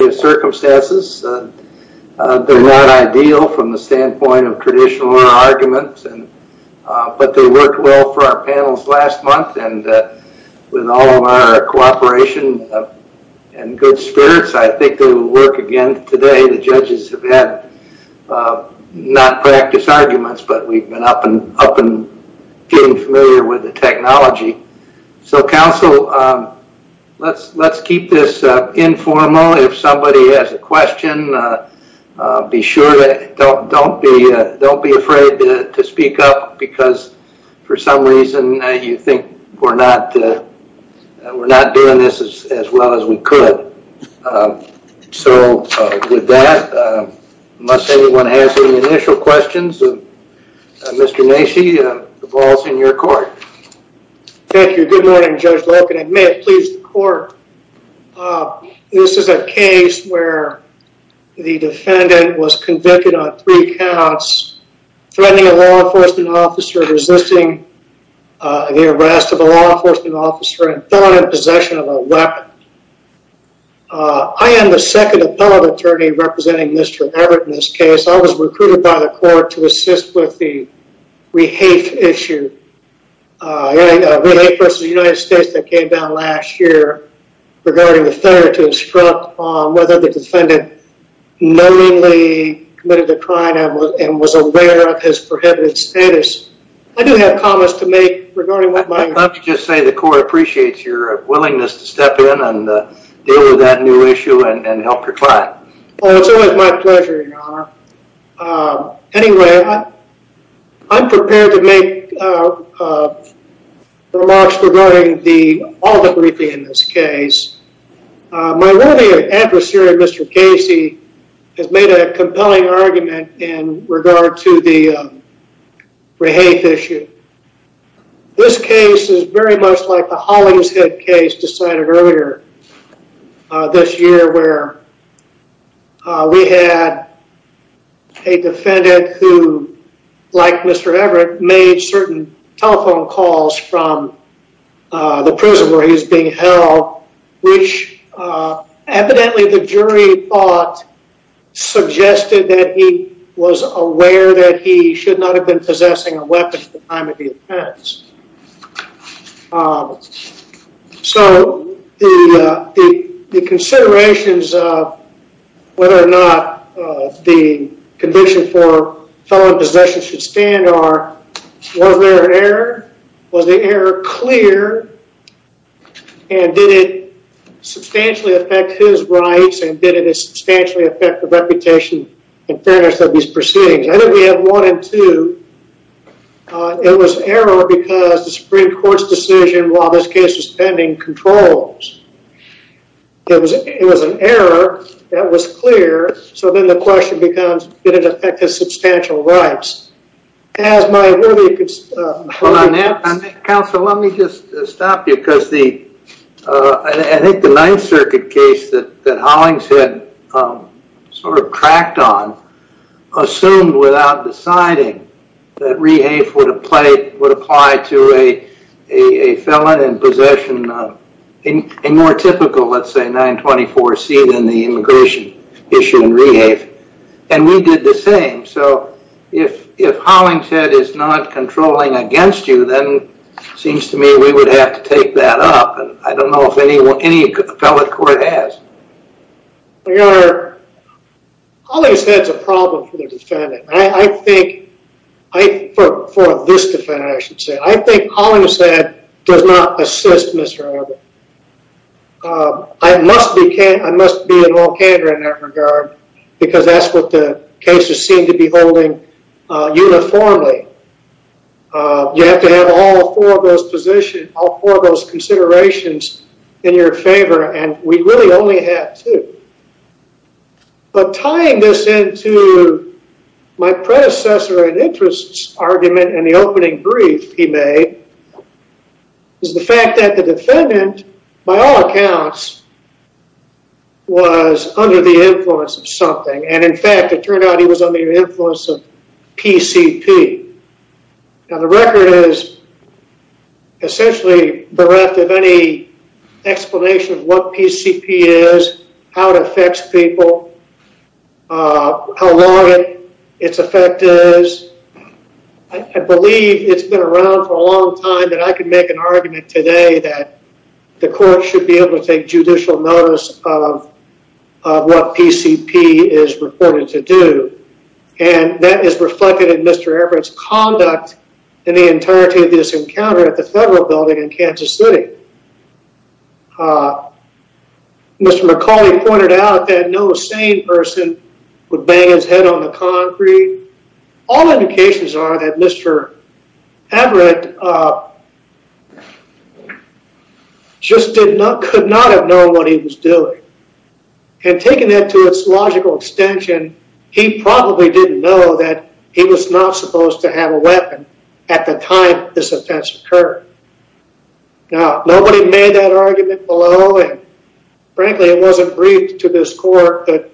Circumstances They're not ideal from the standpoint of traditional arguments and but they worked well for our panels last month and with all of our cooperation and Good spirits. I think they will work again today the judges have had Not practice arguments, but we've been up and up and getting familiar with the technology so counsel Let's let's keep this informal if somebody has a question Be sure that don't don't be don't be afraid to speak up because for some reason you think we're not We're not doing this as well as we could So with that must anyone has any initial questions of Mr. Macy the balls in your court Thank you, good morning judge welcome and may it please the court This is a case where? The defendant was convicted on three counts threatening a law enforcement officer resisting The arrest of a law enforcement officer and thorn in possession of a weapon I am the second appellate attorney representing. Mr. Everett in this case. I was recruited by the court to assist with the rehafe issue vs. United States that came down last year Regarding the third to instruct on whether the defendant knowingly committed the crime and was aware of his prohibited status I do have comments to make regarding what might not just say the court appreciates your Willingness to step in and deal with that new issue and help your client. Oh, it's always my pleasure Anyway, I'm prepared to make Remarks regarding the all the briefing in this case My worthy adversary. Mr. Casey has made a compelling argument in regard to the rehafe issue This case is very much like the Hollingshead case decided earlier this year where We had a defendant who Like mr. Everett made certain telephone calls from the prison where he's being held which Evidently the jury thought Suggested that he was aware that he should not have been possessing a weapon at the time of the offense So the Considerations whether or not the Condition for felon possession should stand or was there an error? Was the error clear? And did it Substantially affect his rights and did it substantially affect the reputation and fairness of these proceedings? I think we have one and two It was error because the Supreme Court's decision while this case was pending controls It was it was an error that was clear so then the question becomes did it affect his substantial rights as my Counsel, let me just stop you because the I think the Ninth Circuit case that that Hollingshead sort of cracked on assumed without deciding that rehafe would apply to a felon in possession of In a more typical, let's say 924 C than the immigration issue and rehafe and we did the same So if if Hollingshead is not controlling against you then Seems to me we would have to take that up and I don't know if anyone any appellate court has We are Hollingshead's a problem for the defendant. I think I For this defendant I should say I think Hollingshead does not assist mr. Everett I must be can't I must be in all candor in that regard because that's what the cases seem to be holding uniformly You have to have all four of those position all four of those considerations in your favor, and we really only have two But tying this into my predecessor and interests argument and the opening brief he made Is the fact that the defendant by all accounts Was under the influence of something and in fact, it turned out he was under the influence of PCP now the record is Essentially bereft of any explanation of what PCP is how it affects people How long it its effect is I That I could make an argument today that the court should be able to take judicial notice of What PCP is reported to do and that is reflected in? Mr. Everett's conduct in the entirety of this encounter at the federal building in Kansas City Mr. McCauley pointed out that no sane person would bang his head on the concrete All indications are that mr. Everett Just did not could not have known what he was doing And taking that to its logical extension He probably didn't know that he was not supposed to have a weapon at the time this offense occurred now nobody made that argument below and frankly, it wasn't briefed to this court, but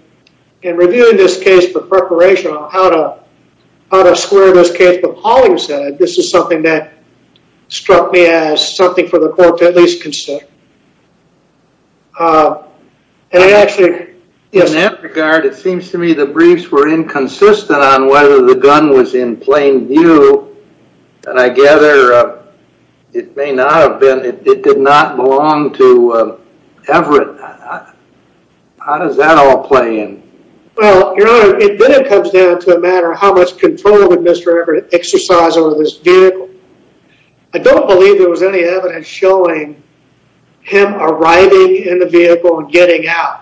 in reviewing this case for preparation on how to Square this case, but Pauling said this is something that struck me as something for the court to at least consider And I actually In that regard it seems to me the briefs were inconsistent on whether the gun was in plain view and I gather It may not have been it did not belong to Everett How does that all play in Well, you know, it comes down to a matter of how much control that mr. Everett exercise over this vehicle. I Don't believe there was any evidence showing Him arriving in the vehicle and getting out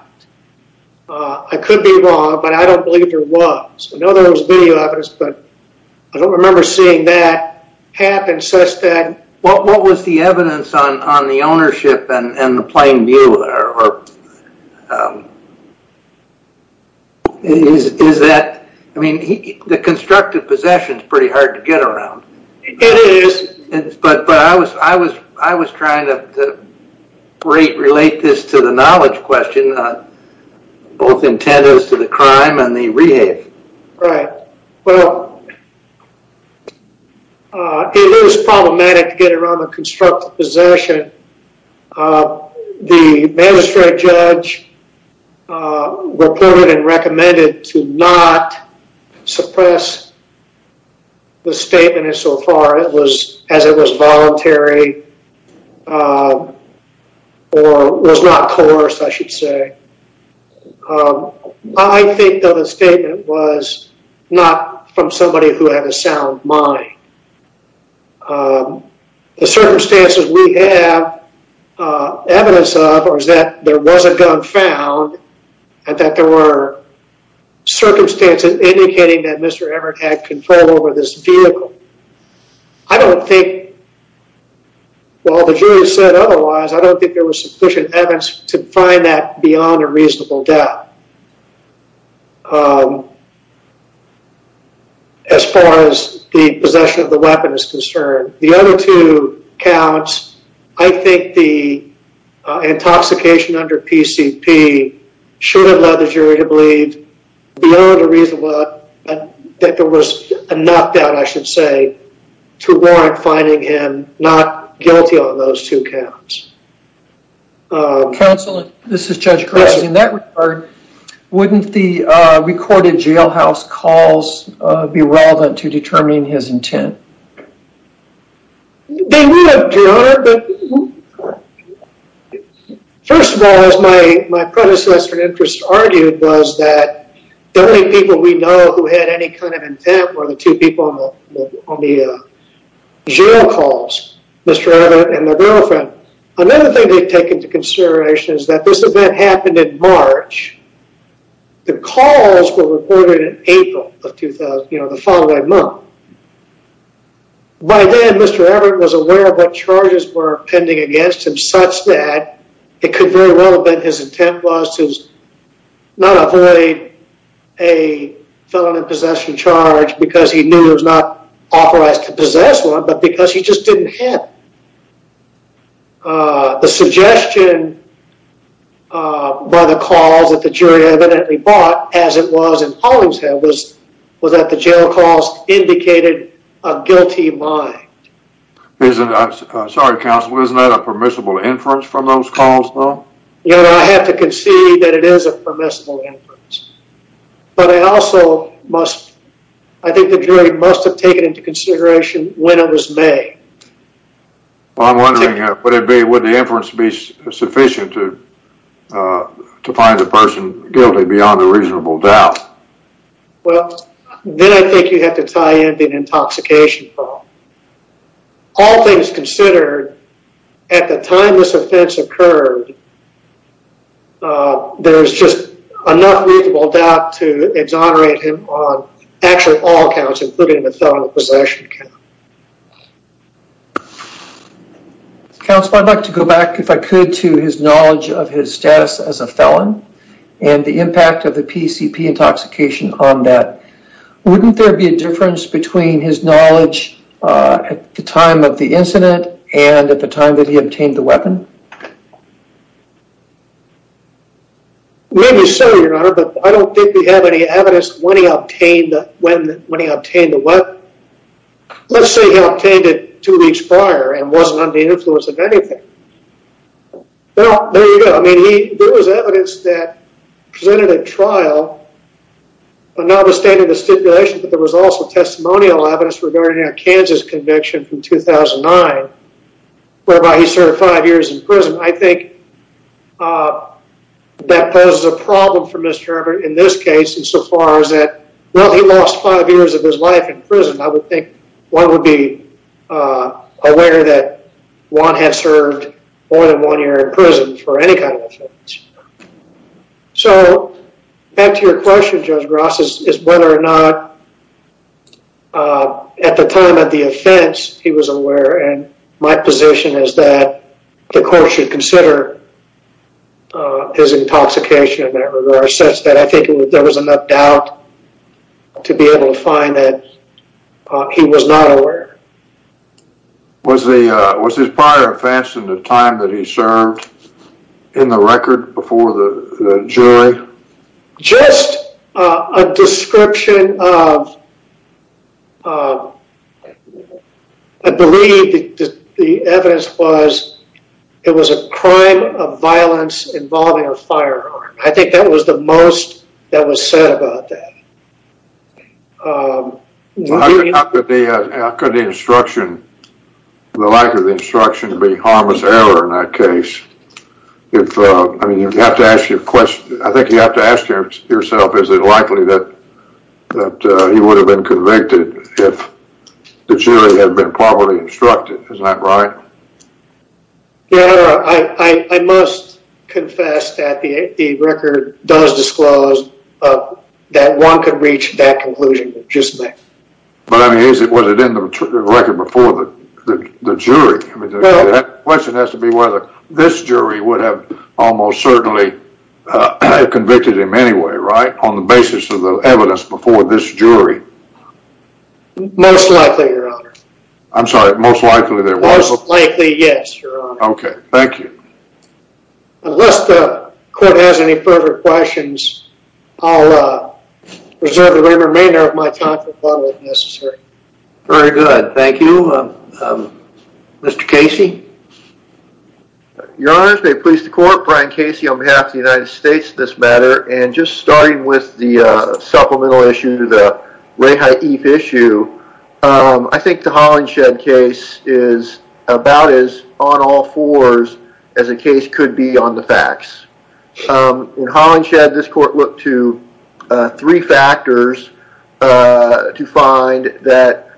I could be wrong, but I don't believe there was I know there was video evidence, but I don't remember seeing that Happen such that what what was the evidence on on the ownership and the plain view there? Is is that I mean the constructive possessions pretty hard to get around It is but but I was I was I was trying to Great relate this to the knowledge question Both intent is to the crime and the rehab, right? Well It Was problematic to get around the constructive possession The magistrate judge Reported and recommended to not suppress The statement is so far. It was as it was voluntary Or was not course I should say I Don't a statement was not from somebody who had a sound mind The circumstances we have evidence of or is that there was a gun found and that there were Circumstances indicating that mr. Everett had control over this vehicle. I don't think Well, the jury said otherwise, I don't think there was sufficient evidence to find that beyond a reasonable doubt As Far as the possession of the weapon is concerned the other two counts, I think the Intoxication under PCP Should have led the jury to believe Beyond a reasonable and that there was a knockdown I should say To warrant finding him not guilty on those two counts Counselor this is judge Chris in that regard Wouldn't the recorded jailhouse calls be relevant to determining his intent First of all as my my predecessor interest argued was that the only people we know who had any kind of intent were the two people on the Jail calls. Mr. Everett and their girlfriend. Another thing they've taken to consideration is that this event happened in March The calls were reported in April of 2000, you know the following month By then, mr Everett was aware of what charges were pending against him such that it could very well have been his intent was to not avoid a Felon in possession charge because he knew it was not authorized to possess one, but because he just didn't have The suggestion By the calls that the jury evidently bought as it was in Hollingshead was was that the jail calls indicated a guilty mind Isn't that sorry counsel? Isn't that a permissible inference from those calls? No, you know, I have to concede that it is a permissible But I also must I think the jury must have taken into consideration when it was made Well, I'm wondering what it'd be would the inference be sufficient to To find the person guilty beyond a reasonable doubt Well, then I think you have to tie into an intoxication problem All things considered at the time this offense occurred There's just enough reasonable doubt to exonerate him on actually all counts including the felony possession count I'd like to go back if I could to his knowledge of his status as a felon and the impact of the PCP intoxication on that Wouldn't there be a difference between his knowledge at the time of the incident and at the time that he obtained the weapon? Maybe so your honor, but I don't think we have any evidence when he obtained when when he obtained the what? Let's say he obtained it two weeks prior and wasn't under the influence of anything Well, there you go. I mean he there was evidence that presented a trial But now the state of the stipulation, but there was also testimonial evidence regarding a Kansas conviction from 2009 Whereby he served five years in prison, I think That poses a problem for mr. In this case and so far as that well, he lost five years of his life in prison, I would think one would be Aware that one has served more than one year in prison for any kind of offense So back to your question judge Ross's is whether or not At the time of the offense he was aware and my position is that the court should consider His intoxication in that regard such that I think there was enough doubt to be able to find that He was not aware Was the was his prior offense in the time that he served in the record before the jury? just a description of I Violence involving a firearm. I think that was the most that was said about that Could the instruction The like of the instruction to be harmless error in that case If I mean you have to ask you a question, I think you have to ask yourself. Is it likely that That he would have been convicted if the jury had been properly instructed. Is that right? Yeah, I must confess that the record does disclose That one could reach that conclusion just me, but I mean is it was it in the record before the jury? I mean that question has to be whether this jury would have almost certainly Convicted him anyway, right on the basis of the evidence before this jury Most likely your honor, I'm sorry most likely there was likely yes, okay. Thank you unless the court has any further questions, I'll Preserve the remainder of my time necessary. Very good. Thank you Mr. Casey Your honors may please the court Brian Casey on behalf of the United States this matter and just starting with the Reha Eve issue I think the Holland shed case is About is on all fours as a case could be on the facts In Holland shed this court looked to three factors to find that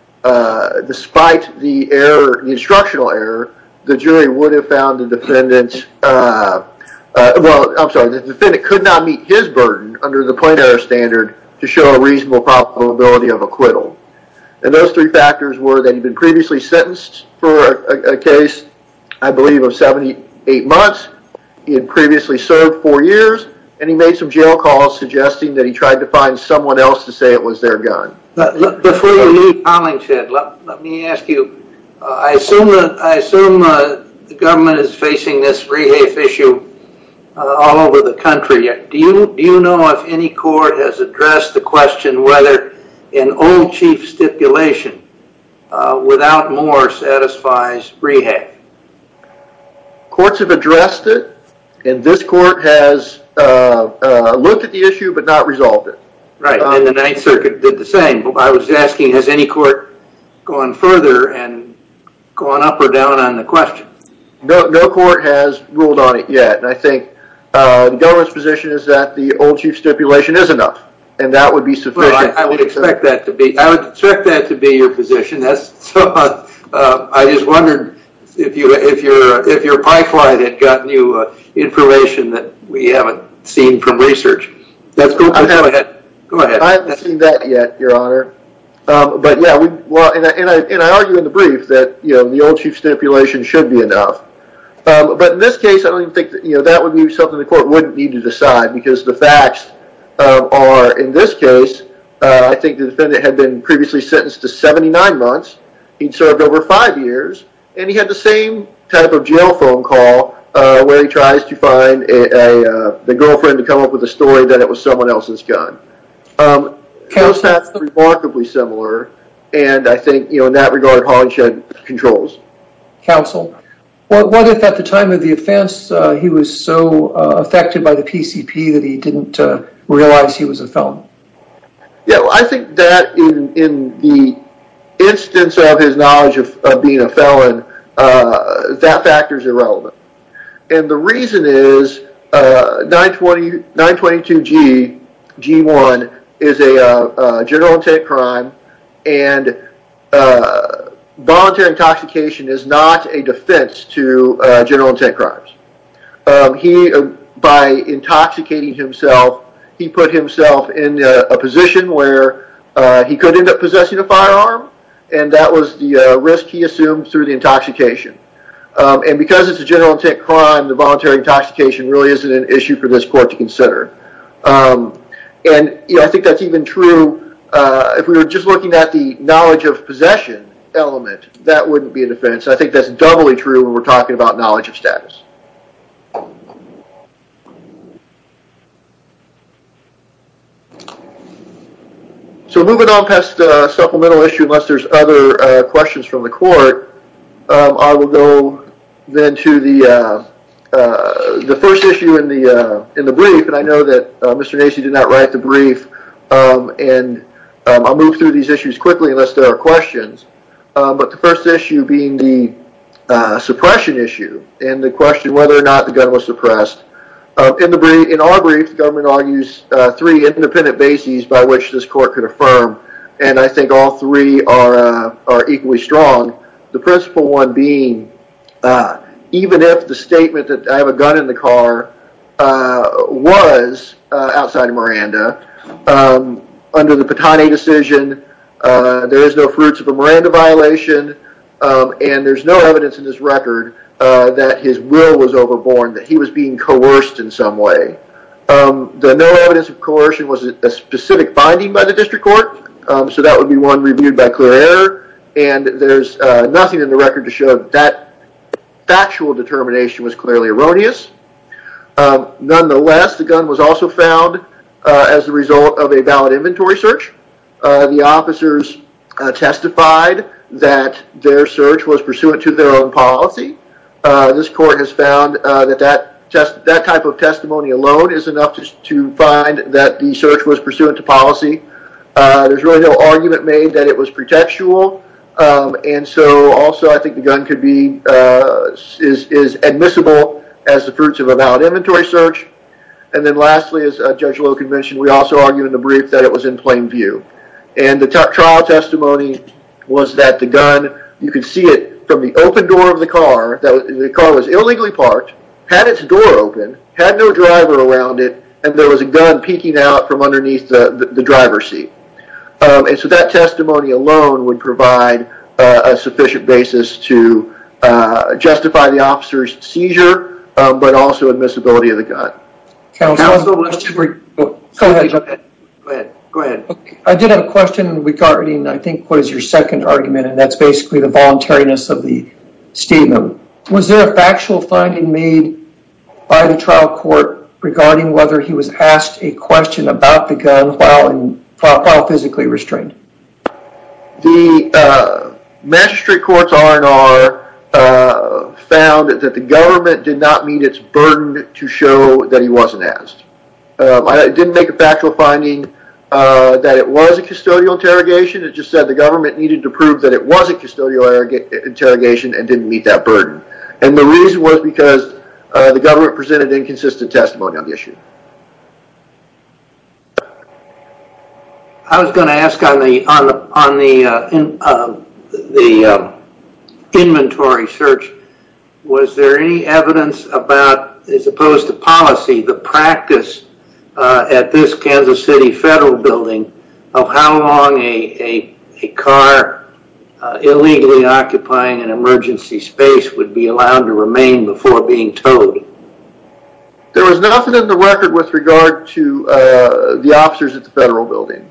Despite the error the instructional error the jury would have found the defendants Well, I'm sorry the defendant could not meet his burden under the planar standard to show a reasonable probability of acquittal And those three factors were that he'd been previously sentenced for a case I believe of 78 months he had previously served four years And he made some jail calls suggesting that he tried to find someone else to say it was their gun But before you leave Holland shed let me ask you I assume that I assume The government is facing this Reha Eve issue All over the country yet. Do you do you know if any court has addressed the question whether an old chief stipulation? without more satisfies Reha Eve Courts have addressed it and this court has Looked at the issue, but not resolved it right in the Ninth Circuit did the same I was asking has any court going further and Going up or down on the question no no court has ruled on it yet, and I think Governor's position is that the old chief stipulation is enough and that would be so I would expect that to be I would check that To be your position. That's I just wondered if you if you're if your pipeline had gotten you Information that we haven't seen from research. That's good. I have a head go ahead. I've seen that yet your honor But yeah, well and I argue in the brief that you know the old chief stipulation should be enough But in this case, I don't think that you know that would be something the court wouldn't need to decide because the facts Are in this case? I think the defendant had been previously sentenced to 79 months He'd served over five years and he had the same type of jail phone call where he tries to find a The girlfriend to come up with a story that it was someone else's gun House that's remarkably similar, and I think you know in that regard Hodge had controls Counsel well what if at the time of the offense he was so affected by the PCP that he didn't realize he was a film Yeah, I think that in the instance of his knowledge of being a felon that factors irrelevant and the reason is 920 922 g G1 is a general intent crime and Voluntary intoxication is not a defense to general intent crimes he by intoxicating himself he put himself in a position where He could end up possessing a firearm and that was the risk he assumed through the intoxication And because it's a general intent crime the voluntary intoxication really isn't an issue for this court to consider And you know I think that's even true If we were just looking at the knowledge of possession Element that wouldn't be a defense. I think that's doubly true when we're talking about knowledge of status So moving on past the supplemental issue unless there's other questions from the court I will go then to the The first issue in the in the brief, and I know that mr.. Nacy did not write the brief and I'll move through these issues quickly unless there are questions, but the first issue being the Suppression issue and the question whether or not the gun was suppressed In the brain in our brief the government argues three independent bases by which this court could affirm And I think all three are are equally strong the principle one being Even if the statement that I have a gun in the car was outside of Miranda under the Patani decision There is no fruits of a Miranda violation And there's no evidence in this record that his will was overborne that he was being coerced in some way The no evidence of coercion was a specific finding by the district court So that would be one reviewed by clear error, and there's nothing in the record to show that Factual determination was clearly erroneous Nonetheless the gun was also found as a result of a valid inventory search the officers Testified that their search was pursuant to their own policy This court has found that that test that type of testimony alone is enough to find that the search was pursuant to policy There's really no argument made that it was pretextual and so also I think the gun could be Is admissible as the fruits of a valid inventory search and then lastly as a judge low convention? We also argue in the brief that it was in plain view and the trial testimony Was that the gun you could see it from the open door of the car that the car was illegally parked? Had its door open had no driver around it, and there was a gun peeking out from underneath the driver's seat and so that testimony alone would provide a sufficient basis to Justify the officer's seizure, but also admissibility of the gun I did have a question regarding. I think what is your second argument, and that's basically the voluntariness of the statement was there a factual finding made By the trial court regarding whether he was asked a question about the gun while and physically restrained the Mastery courts are and are Found that the government did not mean it's burdened to show that he wasn't asked. I didn't make a factual finding That it was a custodial interrogation. It just said the government needed to prove that it was a custodial Interrogation and didn't meet that burden and the reason was because the government presented inconsistent testimony on the issue I Was going to ask on the on the on the Inventory search Was there any evidence about as opposed to policy the practice? At this Kansas City federal building of how long a a car Illegally occupying an emergency space would be allowed to remain before being towed There was nothing in the record with regard to the officers at the federal building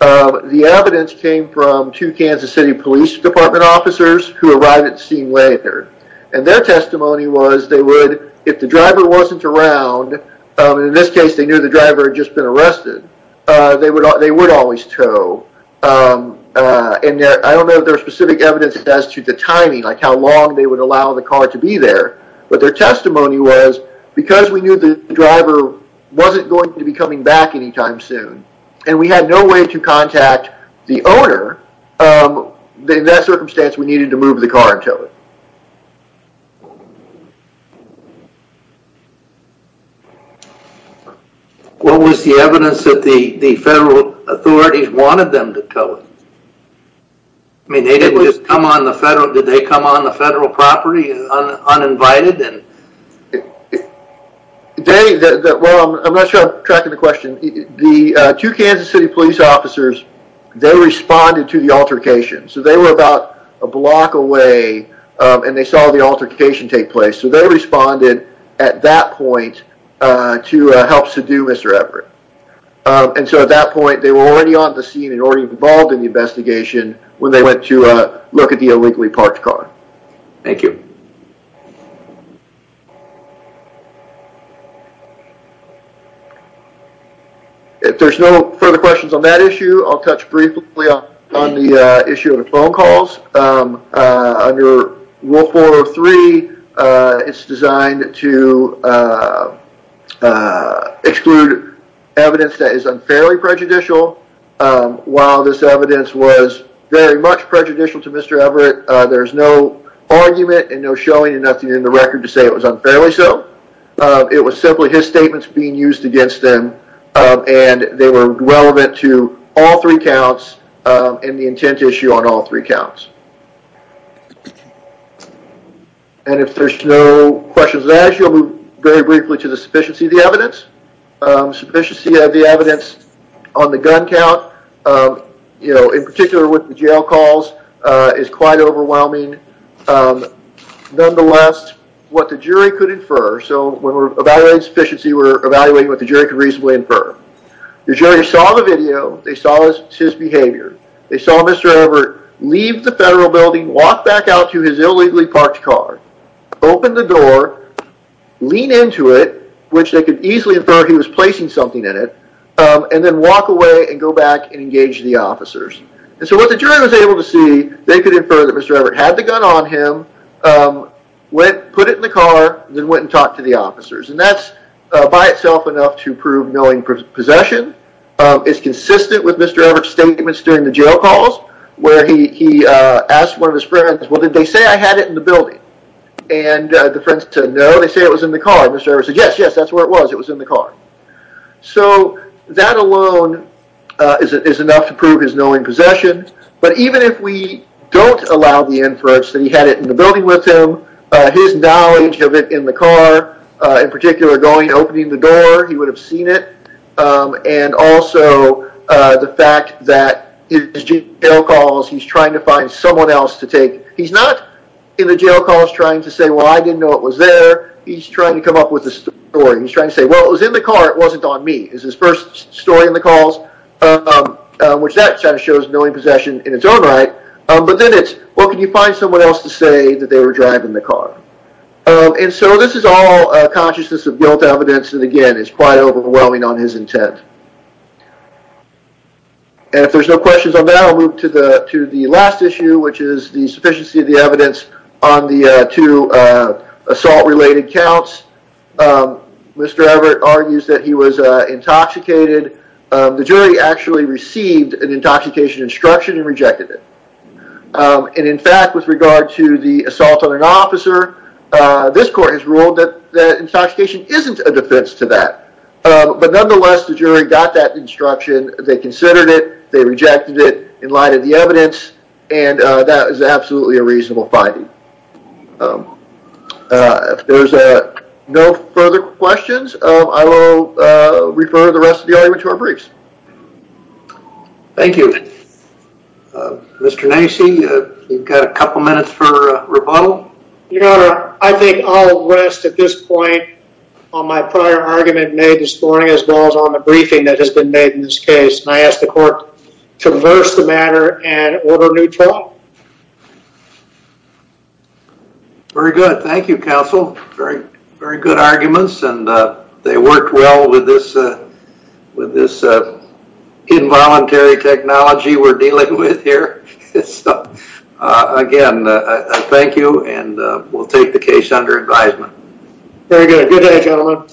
The evidence came from two Kansas City Police Department officers who arrived at scene later And their testimony was they would if the driver wasn't around In this case they knew the driver had just been arrested They would they would always tow And I don't know their specific evidence as to the timing like how long they would allow the car to be there But their testimony was because we knew the driver Wasn't going to be coming back anytime soon, and we had no way to contact the owner They that circumstance we needed to move the car until it What was the evidence that the the federal authorities wanted them to tell it I Mean they didn't just come on the federal did they come on the federal property uninvited and The day that well, I'm not sure tracking the question the two Kansas City Police officers They responded to the altercation. So they were about a block away And they saw the altercation take place. So they responded at that point To helps to do mr. Everett And so at that point they were already on the scene and already involved in the investigation When they went to look at the illegally parked car Thank you If There's no further questions on that issue, I'll touch briefly on the issue of the phone calls under wolf 403 it's designed to Exclude evidence that is unfairly prejudicial While this evidence was very much prejudicial to mr. Everett There's no argument and no showing and nothing in the record to say it was unfairly so It was simply his statements being used against them And they were relevant to all three counts in the intent issue on all three counts And if there's no questions that you'll move very briefly to the sufficiency of the evidence sufficiency of the evidence on the gun count You know in particular with the jail calls is quite overwhelming Nonetheless what the jury could infer so when we're evaluating sufficiency we're evaluating what the jury could reasonably infer The jury saw the video they saw his behavior. They saw mr. Everett leave the federal building walk back out to his illegally parked car Open the door Lean into it, which they could easily infer he was placing something in it and then walk away and go back And engage the officers and so what the jury was able to see they could infer that mr. Everett had the gun on him Went put it in the car then went and talked to the officers and that's by itself enough to prove knowing possession It's consistent with mr. Everett statements during the jail calls where he he asked one of his friends well, did they say I had it in the building and The friends said no they say it was in the car. Mr. Everett said yes. Yes, that's where it was. It was in the car so that alone Is it is enough to prove his knowing possession But even if we don't allow the inference that he had it in the building with him His knowledge of it in the car in particular going opening the door. He would have seen it and also The fact that his jail calls. He's trying to find someone else to take he's not in the jail calls trying to say Well, I didn't know it was there. He's trying to come up with this story. He's trying to say well it was in the car It wasn't on me is his first story in the calls Which that shows knowing possession in its own, right? But then it's what can you find someone else to say that they were driving the car? And so this is all consciousness of guilt evidence. And again, it's quite overwhelming on his intent And if there's no questions on that I'll move to the to the last issue which is the sufficiency of the evidence on the to assault related counts Mr. Everett argues that he was Intoxicated the jury actually received an intoxication instruction and rejected it And in fact with regard to the assault on an officer This court has ruled that the intoxication isn't a defense to that But nonetheless the jury got that instruction they considered it They rejected it in light of the evidence and that is absolutely a reasonable finding If there's a no further questions, I will refer the rest of the argument to our briefs Thank you Mr. Nancy, you've got a couple minutes for rebuttal You know I think I'll rest at this point on my prior argument made this morning as well as on the briefing that has been made in This case and I asked the court to reverse the matter and order new trial Very good. Thank you counsel. Very very good arguments and they worked well with this with this Involuntary technology we're dealing with here. It's Again, I thank you and we'll take the case under advisement. Very good. Good day gentlemen